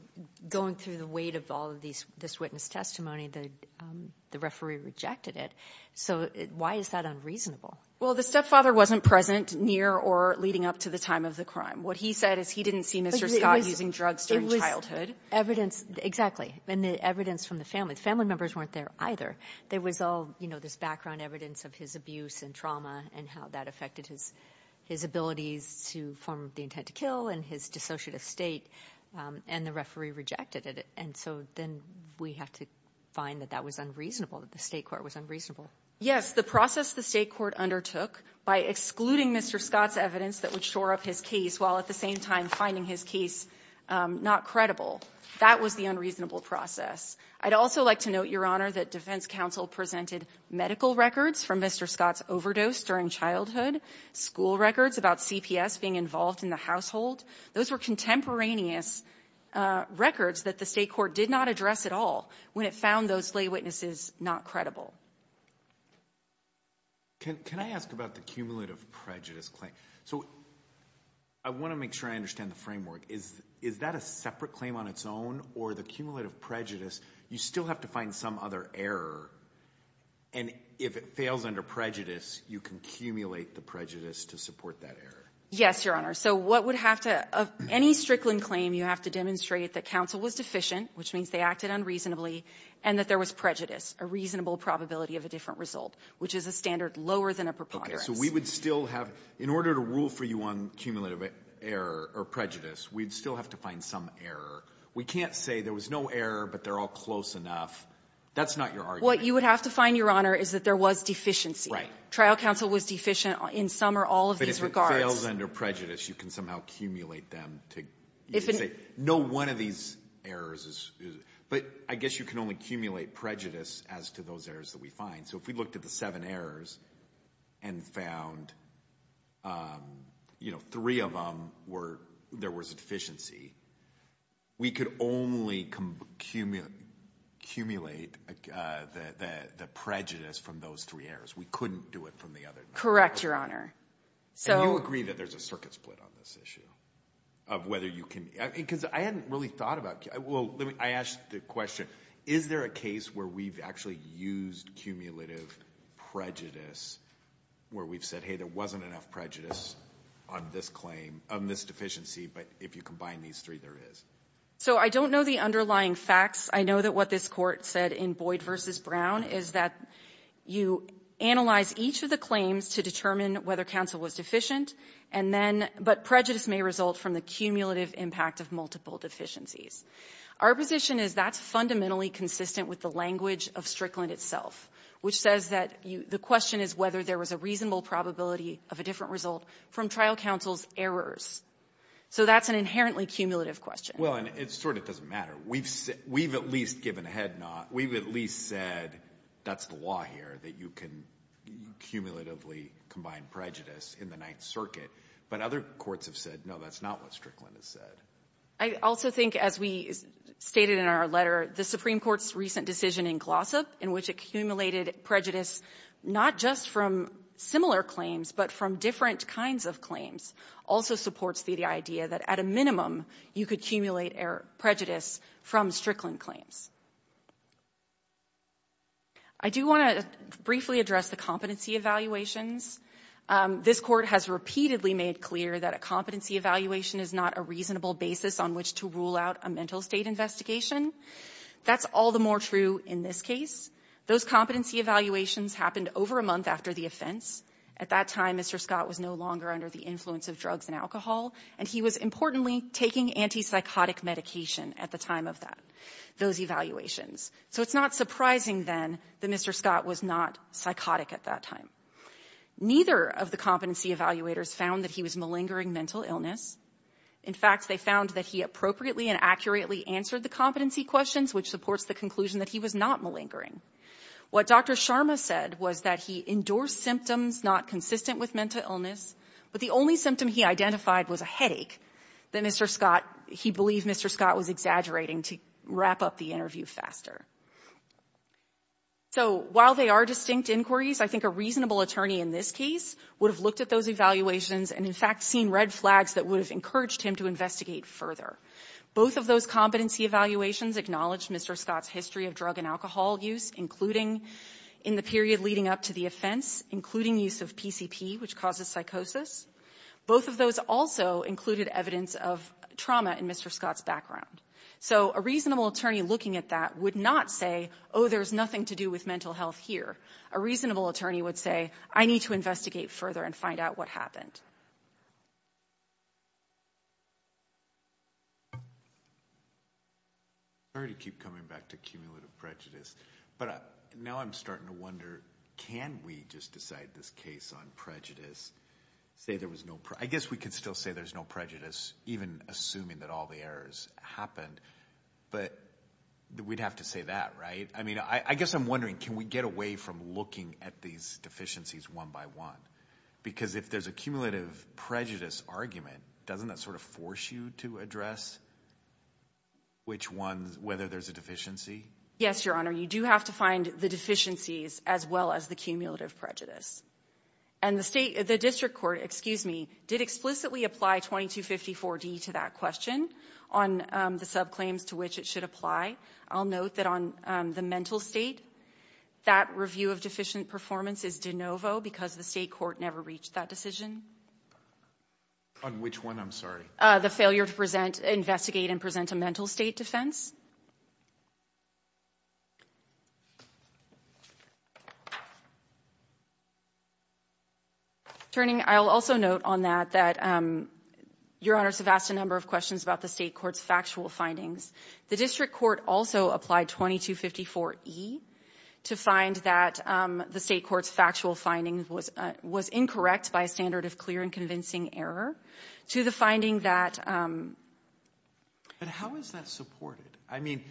going through the weight of all of this witness testimony, the referee rejected it. So why is that unreasonable? Well, the stepfather wasn't present near or leading up to the time of the crime. What he said is he didn't see Mr. Scott using drugs during childhood. It was evidence, exactly, and the evidence from the family. The family members weren't there either. There was all this background evidence of his abuse and trauma and how that affected his abilities to form the intent to kill and his dissociative state, and the referee rejected it. And so then we have to find that that was unreasonable, that the State court was unreasonable. Yes, the process the State court undertook by excluding Mr. Scott's evidence that would shore up his case while at the same time finding his case not credible, that was the unreasonable process. I'd also like to note, Your Honor, that defense counsel presented medical records from Mr. Scott's overdose during childhood, school records about CPS being involved in the household. Those were contemporaneous records that the State court did not address at all when it found those lay witnesses not credible. Can I ask about the cumulative prejudice claim? So I want to make sure I understand the framework. Is that a separate claim on its own, or the cumulative prejudice, you still have to find some other error? And if it fails under prejudice, you can accumulate the prejudice to support that error? Yes, Your Honor. So what would have to — of any Strickland claim, you have to demonstrate that counsel was deficient, which means they acted unreasonably, and that there was prejudice, a reasonable probability of a different result, which is a standard lower than a preponderance. Okay. So we would still have — in order to rule for you on cumulative error or prejudice, we'd still have to find some error. We can't say there was no error but they're all close enough. That's not your argument. What you would have to find, Your Honor, is that there was deficiency. Trial counsel was deficient in some or all of these regards. But if it fails under prejudice, you can somehow accumulate them to say no one of these errors is — but I guess you can only accumulate prejudice as to those errors that we find. So if we looked at the seven errors and found, you know, three of them were — there was a difference in the prejudice from those three errors. We couldn't do it from the other nine. Correct, Your Honor. So — And you agree that there's a circuit split on this issue of whether you can — because I hadn't really thought about — well, let me — I asked the question, is there a case where we've actually used cumulative prejudice where we've said, hey, there wasn't enough prejudice on this claim — on this deficiency, but if you combine these three, there is? So I don't know the underlying facts. I know that what this Court said in Boyd v. Brown is that you analyze each of the claims to determine whether counsel was deficient, and then — but prejudice may result from the cumulative impact of multiple deficiencies. Our position is that's fundamentally consistent with the language of Strickland itself, which says that the question is whether there was a reasonable probability of a different result from trial counsel's errors. So that's an inherently cumulative question. Well, and it sort of doesn't matter. We've at least given a head nod. We've at least said that's the law here, that you can cumulatively combine prejudice in the Ninth Circuit. But other courts have said, no, that's not what Strickland has said. I also think, as we stated in our letter, the Supreme Court's recent decision in Glossop, in which accumulated prejudice not just from similar claims but from different kinds of claims, also supports the idea that at a minimum, you could accumulate prejudice from Strickland claims. I do want to briefly address the competency evaluations. This Court has repeatedly made clear that a competency evaluation is not a reasonable basis on which to rule out a mental state investigation. That's all the more true in this case. Those competency evaluations happened over a month after the offense. At that time, Mr. Scott was no longer under the influence of drugs and alcohol, and he was, importantly, taking antipsychotic medication at the time of that, those evaluations. So it's not surprising, then, that Mr. Scott was not psychotic at that time. Neither of the competency evaluators found that he was malingering mental illness. In fact, they found that he appropriately and accurately answered the competency questions, which supports the conclusion that he was not malingering. What Dr. Sharma said was that he endorsed symptoms not consistent with mental illness as a headache, that Mr. Scott, he believed Mr. Scott was exaggerating to wrap up the interview faster. So while they are distinct inquiries, I think a reasonable attorney in this case would have looked at those evaluations and, in fact, seen red flags that would have encouraged him to investigate further. Both of those competency evaluations acknowledge Mr. Scott's history of drug and alcohol use, including in the period leading up to the offense, including use of PCP, which causes psychosis. Both of those also included evidence of trauma in Mr. Scott's background. So a reasonable attorney looking at that would not say, oh, there's nothing to do with mental health here. A reasonable attorney would say, I need to investigate further and find out what happened. I keep coming back to cumulative prejudice, but now I'm starting to wonder, can we just decide this case on prejudice, say there was no, I guess we can still say there's no prejudice, even assuming that all the errors happened, but we'd have to say that, right? I mean, I guess I'm wondering, can we get away from looking at these deficiencies one by one? Because if there's a cumulative prejudice argument, doesn't that sort of force you to address which ones, whether there's a deficiency? Yes, Your Honor. You do have to find the deficiencies as well as the cumulative prejudice. And the state, the district court, excuse me, did explicitly apply 2254D to that question on the subclaims to which it should apply. I'll note that on the mental state, that review of deficient performance is de novo because the state court never reached that decision. On which one? I'm sorry. The failure to present, investigate, and present a mental state defense. Attorney, I'll also note on that that Your Honor has asked a number of questions about the state court's factual findings. The district court also applied 2254E to find that the state court's factual findings was incorrect by a standard of clear and convincing error to the extent that it should be. But how is that supported? I mean,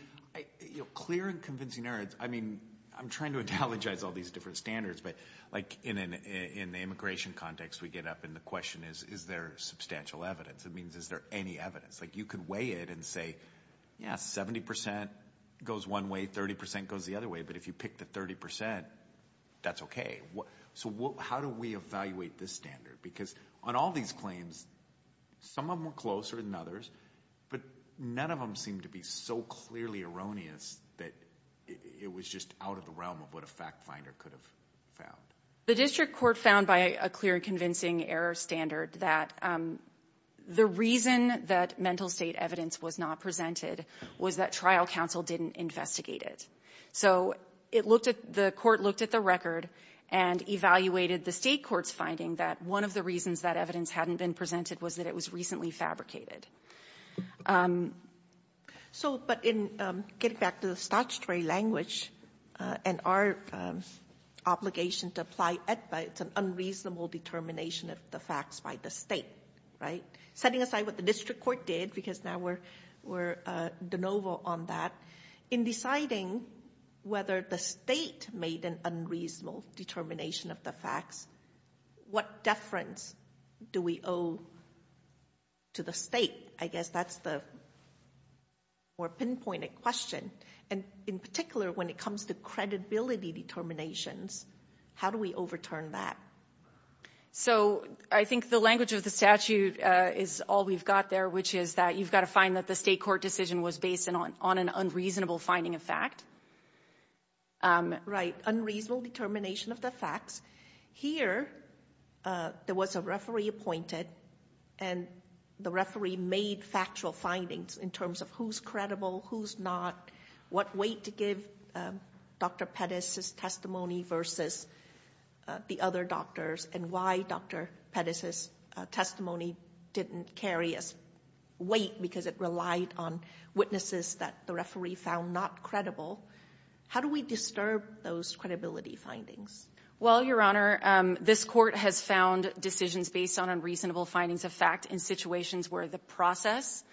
clear and convincing error, I mean, I'm trying to analogize all these different standards, but like in the immigration context, we get up and the question is, is there substantial evidence? It means is there any evidence? Like you could weigh it and say, yeah, 70% goes one way, 30% goes the other way, but if you pick the 30%, that's okay. So how do we evaluate this standard? Because on all these claims, some of them were closer than others, but none of them seemed to be so clearly erroneous that it was just out of the realm of what a fact finder could have found. The district court found by a clear and convincing error standard that the reason that mental state evidence was not presented was that trial counsel didn't investigate it. So the court looked at the record and evaluated the state court's finding that one of the reasons that evidence hadn't been presented was that it was recently fabricated. So, but in getting back to the statutory language and our obligation to apply it, it's an unreasonable determination of the facts by the state, right? Setting aside what the district court did, because now we're de novo on that, in deciding whether the state made an unreasonable determination of the facts, what deference do we owe to the state? I guess that's the more pinpointed question. And in particular, when it comes to credibility determinations, how do we overturn that? So I think the language of the statute is all we've got there, which is that you've got to find that the state court decision was based on an unreasonable finding of fact. Right. Unreasonable determination of the facts. Here, there was a referee appointed, and the referee made factual findings in terms of who's credible, who's not, what weight to give Dr. Pettis' testimony versus the other doctors, and why Dr. Pettis' testimony didn't carry as weight because it relied on witnesses that the referee found not credible. How do we disturb those credibility findings? Well, Your Honor, this Court has found decisions based on unreasonable findings of fact in situations where the process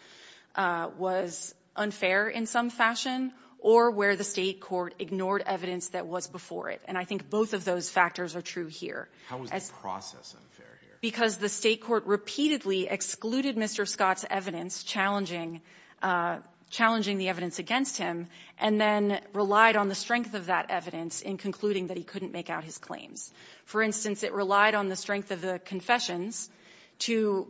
was unfair in some fashion or where the state court ignored evidence that was before it. And I think both of those factors are true here. How was the process unfair here? Because the state court repeatedly excluded Mr. Scott's evidence, challenging the evidence against him, and then relied on the strength of that evidence in concluding that he couldn't make out his claims. For instance, it relied on the strength of the confessions to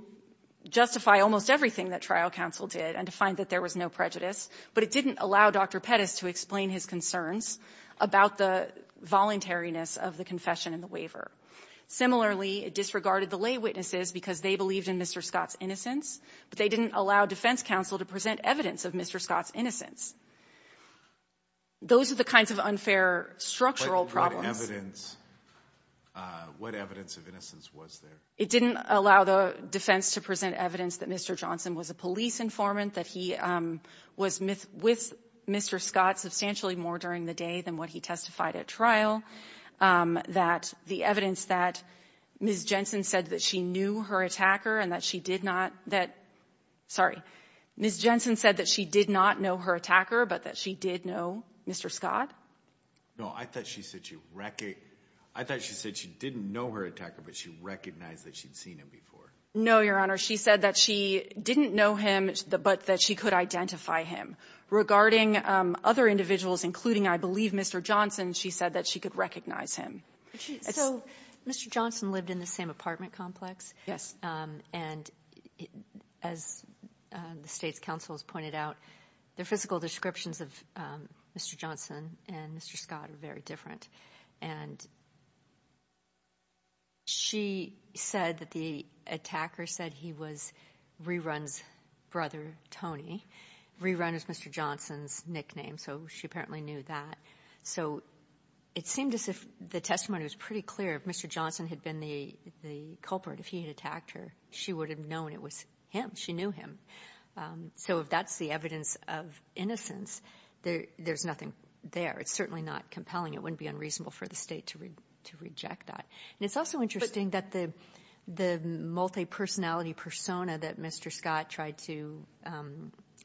justify almost everything that trial counsel did and to find that there was no prejudice, but it didn't allow Dr. Pettis to explain his concerns about the voluntariness of the confession and the waiver. Similarly, it disregarded the lay witnesses because they believed in Mr. Scott's innocence, but they didn't allow defense counsel to present evidence of Mr. Scott's innocence. Those are the kinds of unfair structural problems. But what evidence of innocence was there? It didn't allow the defense to present evidence that Mr. Johnson was a police informant, that he was with Mr. Scott substantially more during the day than what he testified at trial, that the evidence that Ms. Jensen said that she knew her attacker and that she did not that — sorry. Ms. Jensen said that she did not know her attacker, but that she did know Mr. Scott? No. I thought she said she reckoned — I thought she said she didn't know her attacker, but she recognized that she'd seen him before. No, Your Honor. She said that she didn't know him, but that she could identify him. Regarding other individuals, including, I believe, Mr. Johnson, she said that she could recognize him. So Mr. Johnson lived in the same apartment complex? And as the state's counsel has pointed out, the physical descriptions of Mr. Johnson and Mr. Scott are very different. And she said that the attacker said he was Rerun's brother, Tony. Rerun is Mr. Johnson's nickname, so she apparently knew that. So it seemed as if the testimony was pretty clear. If Mr. Johnson had been the culprit, if he had attacked her, she would have known it was him. She knew him. So if that's the evidence of innocence, there's nothing there. It's certainly not compelling. It wouldn't be unreasonable for the state to reject that. And it's also interesting that the multi-personality persona that Mr. Scott tried to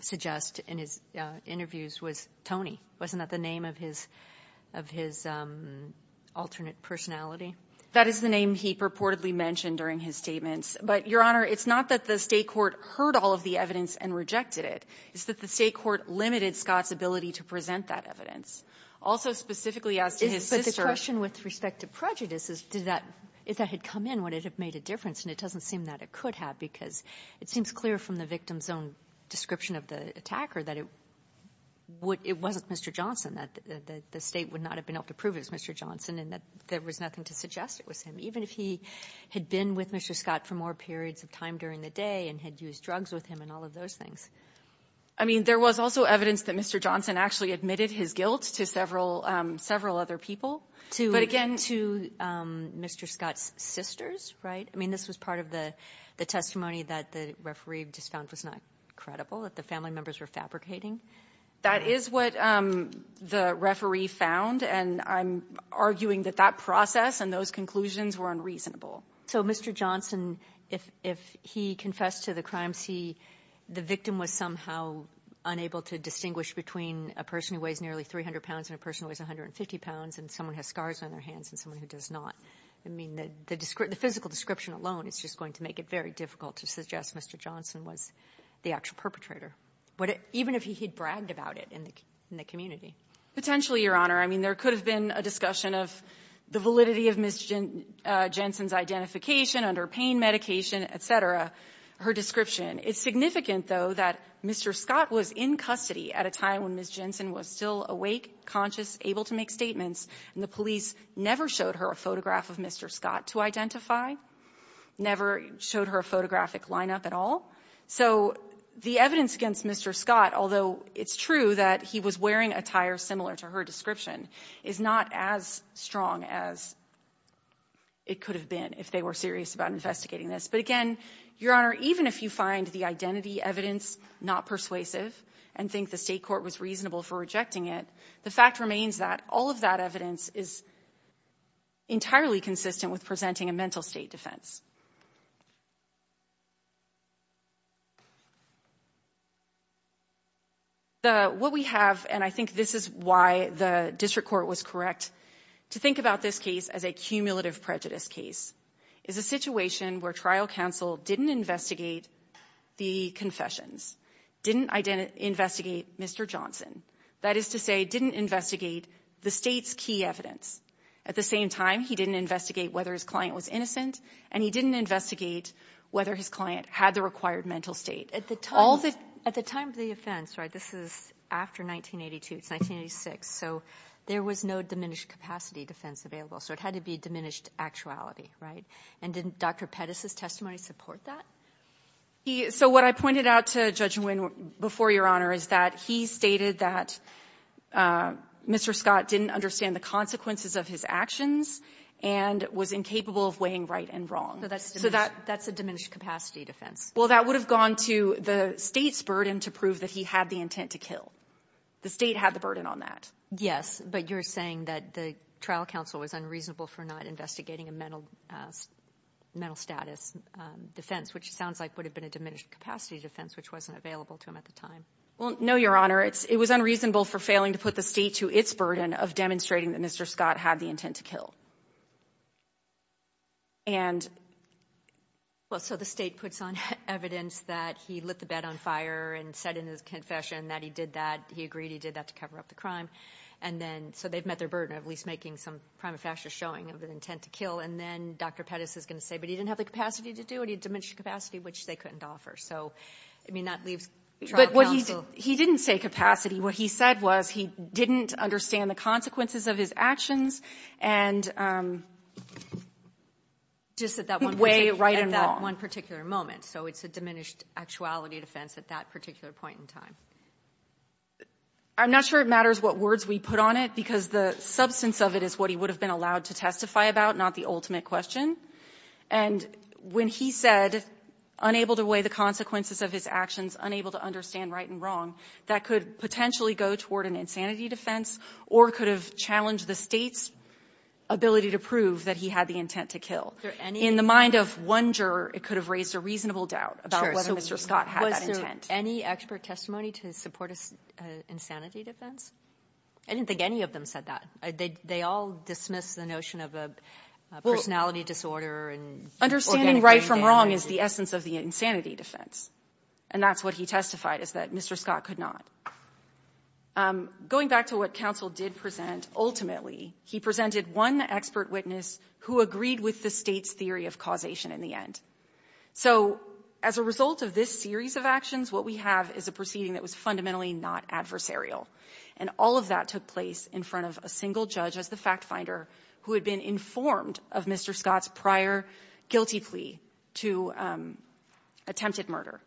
suggest in his interviews was Tony. Wasn't that the name of his alternate personality? That is the name he purportedly mentioned during his statements. But, Your Honor, it's not that the state court heard all of the evidence and rejected it. It's that the state court limited Scott's ability to present that evidence. Also, specifically as to his sister... But the question with respect to prejudice is, if that had come in, would it have made a difference? And it doesn't seem that it could have, because it seems clear from the victim's own description of the attacker that it wasn't Mr. Johnson, that the state would not have been able to prove it was Mr. Johnson and that there was nothing to suggest it was him, even if he had been with Mr. Scott for more periods of time during the day and had used drugs with him and all of those things. I mean, there was also evidence that Mr. Johnson actually admitted his guilt to several other people. But again... To Mr. Scott's sisters, right? I mean, this was part of the testimony that the referee just found was not credible, that the family members were fabricating. That is what the referee found, and I'm arguing that that process and those conclusions were unreasonable. So Mr. Johnson, if he confessed to the crimes, he the victim was somehow unable to distinguish between a person who weighs nearly 300 pounds and a person who weighs 150 pounds, and someone who has scars on their hands and someone who does not. I mean, the physical description alone is just going to make it very difficult to suggest Mr. Johnson was the actual perpetrator, even if he had bragged about it in the community. Potentially, Your Honor. I mean, there could have been a discussion of the validity of Ms. Jensen's identification under pain medication, et cetera, her description. It's significant, though, that Mr. Scott was in custody at a time when Ms. Jensen was still awake, conscious, able to make statements, and the police never showed her a photograph of Mr. Scott to identify, never showed her a photographic lineup at all. So the evidence against Mr. Scott, although it's true that he was wearing attire similar to her description, is not as strong as it could have been if they were serious about investigating this. But again, Your Honor, even if you find the identity evidence not persuasive and think the State court was reasonable for rejecting it, the fact remains that all of that evidence is entirely consistent with presenting a mental state defense. What we have, and I think this is why the District Court was correct to think about this case as a cumulative prejudice case, is a situation where trial counsel didn't investigate the confessions, didn't investigate Mr. Johnson. That is to say, didn't investigate the State's key evidence. At the same time, he didn't investigate whether his client was innocent, and he didn't investigate whether his client had the required mental state. At the time of the offense, right, this is after 1982, it's 1986, so there was no diminished capacity defense available, so it had to be diminished actuality, right? And didn't Dr. Pettis' testimony support that? So what I pointed out to Judge Nguyen before, Your Honor, is that he stated that Mr. Scott didn't understand the consequences of his actions and was incapable of weighing right and wrong. So that's a diminished capacity defense. Well, that would have gone to the State's burden to prove that he had the intent to kill. The State had the burden on that. Yes, but you're saying that the trial counsel was unreasonable for not investigating a mental status defense, which sounds like would have been a diminished capacity defense, which wasn't available to him at the time. Well, no, Your Honor. It was unreasonable for failing to put the State to its burden of demonstrating that Mr. Scott had the intent to kill. And... Well, so the State puts on evidence that he lit the bed on fire and said in his confession that he did that, he agreed he did that to cover up the crime, and then So they've met their burden of at least making some prima facie showing of an intent to kill, and then Dr. Pettis is going to say, but he didn't have the capacity to do it, he had diminished capacity, which they couldn't offer. So, I mean, that leaves trial counsel. But what he didn't say capacity. What he said was he didn't understand the consequences of his actions and just that one particular moment. Could weigh right and wrong. So it's a diminished actuality defense at that particular point in time. I'm not sure it matters what words we put on it, because the substance of it is what he would have been allowed to testify about, not the ultimate question. And when he said unable to weigh the consequences of his actions, unable to understand right and wrong, that could potentially go toward an insanity defense or could have challenged the State's ability to prove that he had the intent to kill. In the mind of one juror, it could have raised a reasonable doubt about whether Mr. Scott had that intent. Any expert testimony to support an insanity defense? I didn't think any of them said that. They all dismissed the notion of a personality disorder and organic DNA. Understanding right from wrong is the essence of the insanity defense. And that's what he testified, is that Mr. Scott could not. Going back to what counsel did present, ultimately, he presented one expert witness who agreed with the State's theory of causation in the end. So as a result of this series of actions, what we have is a proceeding that was fundamentally not adversarial. And all of that took place in front of a single judge as the fact-finder who had been informed of Mr. Scott's prior guilty plea to attempted murder.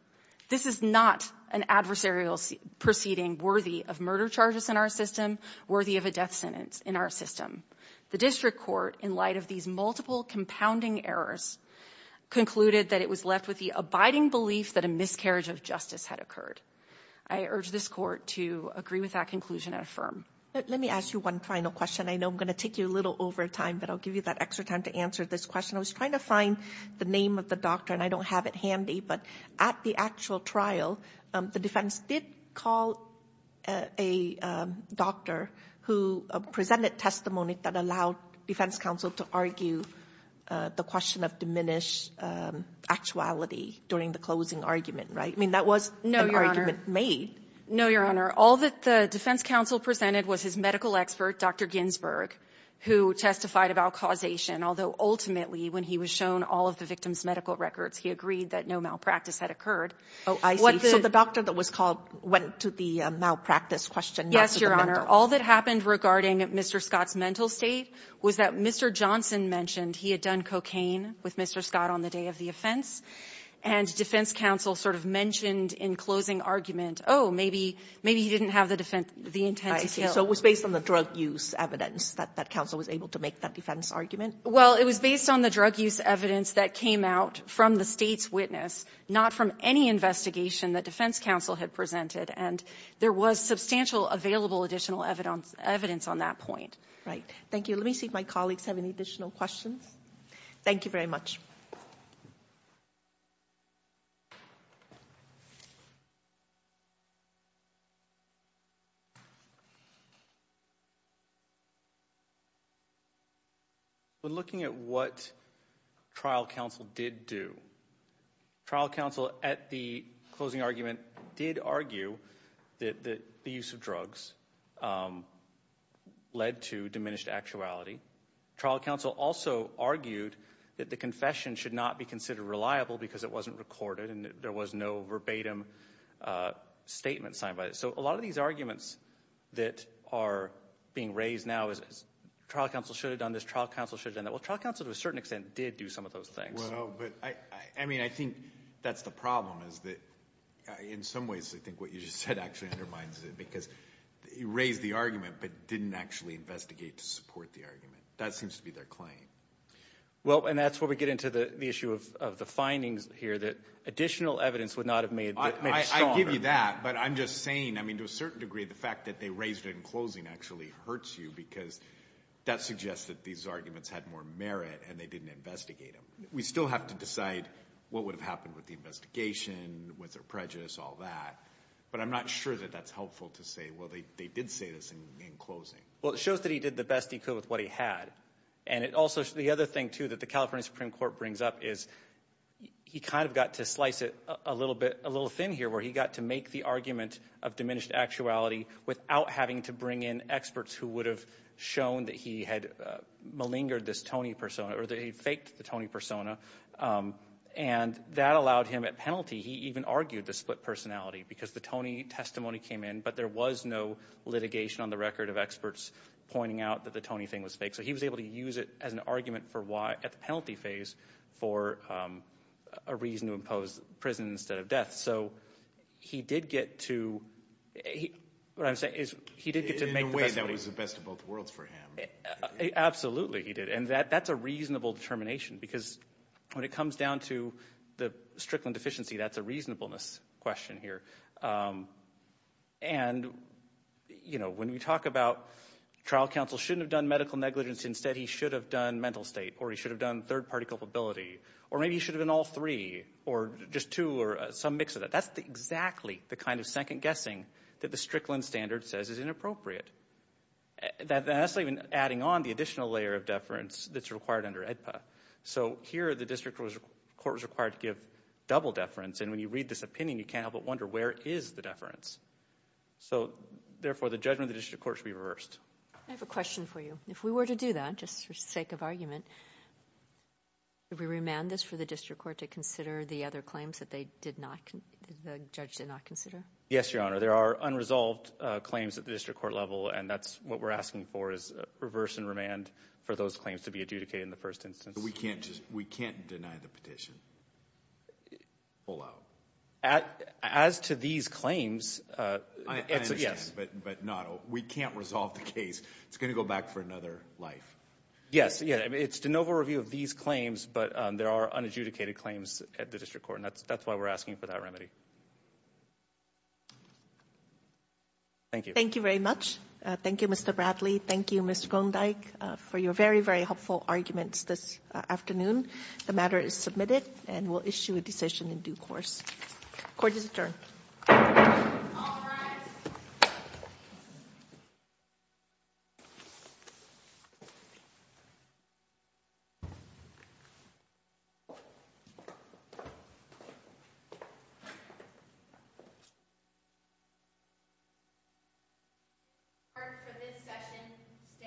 This is not an adversarial proceeding worthy of murder charges in our system, worthy of a death sentence in our system. The district court, in light of these multiple compounding errors, concluded that it was left with the abiding belief that a miscarriage of justice had occurred. I urge this court to agree with that conclusion and affirm. Let me ask you one final question. I know I'm going to take you a little over time, but I'll give you that extra time to answer this question. I was trying to find the name of the doctor, and I don't have it handy, but at the actual trial, the defense did call a doctor who presented testimony that allowed defense counsel to argue the question of diminished actuality during the closing argument, right? I mean, that was an argument made. No, Your Honor. All that the defense counsel presented was his medical expert, Dr. Ginsburg, who testified about causation, although ultimately, when he was shown all of the victim's medical records, he agreed that no malpractice had occurred. Oh, I see. So the doctor that was called went to the malpractice question, not to the mental. Yes, Your Honor. All that happened regarding Mr. Scott's mental state was that Mr. Johnson mentioned he had done cocaine with Mr. Scott on the day of the offense, and defense counsel sort of mentioned in closing argument, oh, maybe he didn't have the intent to kill. I see. So it was based on the drug use evidence that that counsel was able to make that defense argument? Well, it was based on the drug use evidence that came out from the State's witness, not from any investigation that defense counsel had presented. And there was substantial available additional evidence on that point. Right. Thank you. Let me see if my colleagues have any additional questions. Thank you very much. When looking at what trial counsel did do, trial counsel at the closing argument did argue that the use of drugs led to diminished actuality. Trial counsel also argued that the confession should not be considered reliable because it wasn't recorded and there was no verbatim statement signed by it. So a lot of these arguments that are being raised now is trial counsel should have done this, trial counsel should have done that. Well, trial counsel to a certain extent did do some of those things. Well, but, I mean, I think that's the problem is that in some ways I think what you just said actually undermines it because you raised the argument but didn't actually investigate to support the argument. That seems to be their claim. Well, and that's where we get into the issue of the findings here that additional evidence would not have made it stronger. I give you that, but I'm just saying, I mean, to a certain degree the fact that they raised it in closing actually hurts you because that suggests that these arguments had more merit and they didn't investigate them. We still have to decide what would have happened with the investigation, with their prejudice, all that. But I'm not sure that that's helpful to say, well, they did say this in closing. Well, it shows that he did the best he could with what he had. And it also, the other thing, too, that the California Supreme Court brings up is he kind of got to slice it a little bit, a little thin here where he got to make the argument of diminished actuality without having to bring in experts who would have shown that he had malingered this Tony persona or that he had faked the Tony persona. And that allowed him, at penalty, he even argued the split personality because the Tony testimony came in, but there was no litigation on the record of experts pointing out that the Tony thing was fake. So he was able to use it as an argument for why, at the penalty phase, for a reason to impose prison instead of death. So he did get to, what I'm saying is he did get to make the testimony. It changed both worlds for him. Absolutely, he did. And that's a reasonable determination because when it comes down to the Strickland deficiency, that's a reasonableness question here. And, you know, when we talk about trial counsel shouldn't have done medical negligence, instead he should have done mental state or he should have done third-party culpability, or maybe he should have done all three or just two or some mix of that. That's exactly the kind of second guessing that the Strickland standard says is inappropriate. That's even adding on the additional layer of deference that's required under AEDPA. So here the district court was required to give double deference, and when you read this opinion you can't help but wonder where is the deference? So, therefore, the judgment of the district court should be reversed. I have a question for you. If we were to do that, just for sake of argument, would we remand this for the district court to consider the other claims that they did not, the judge did not consider? Yes, Your Honor. There are unresolved claims at the district court level, and that's what we're asking for is reverse and remand for those claims to be adjudicated in the first instance. We can't just, we can't deny the petition. Pull out. As to these claims, it's a yes. I understand, but not, we can't resolve the case. It's going to go back for another life. Yes, yeah, it's de novo review of these claims, but there are unadjudicated claims at the district court, and that's why we're asking for that remedy. Thank you. Thank you very much. Thank you, Mr. Bradley. Thank you, Mr. Grondyke, for your very, very helpful arguments this afternoon. The matter is submitted, and we'll issue a decision in due course. Court is adjourned. All rise. Court for this session stands adjourned.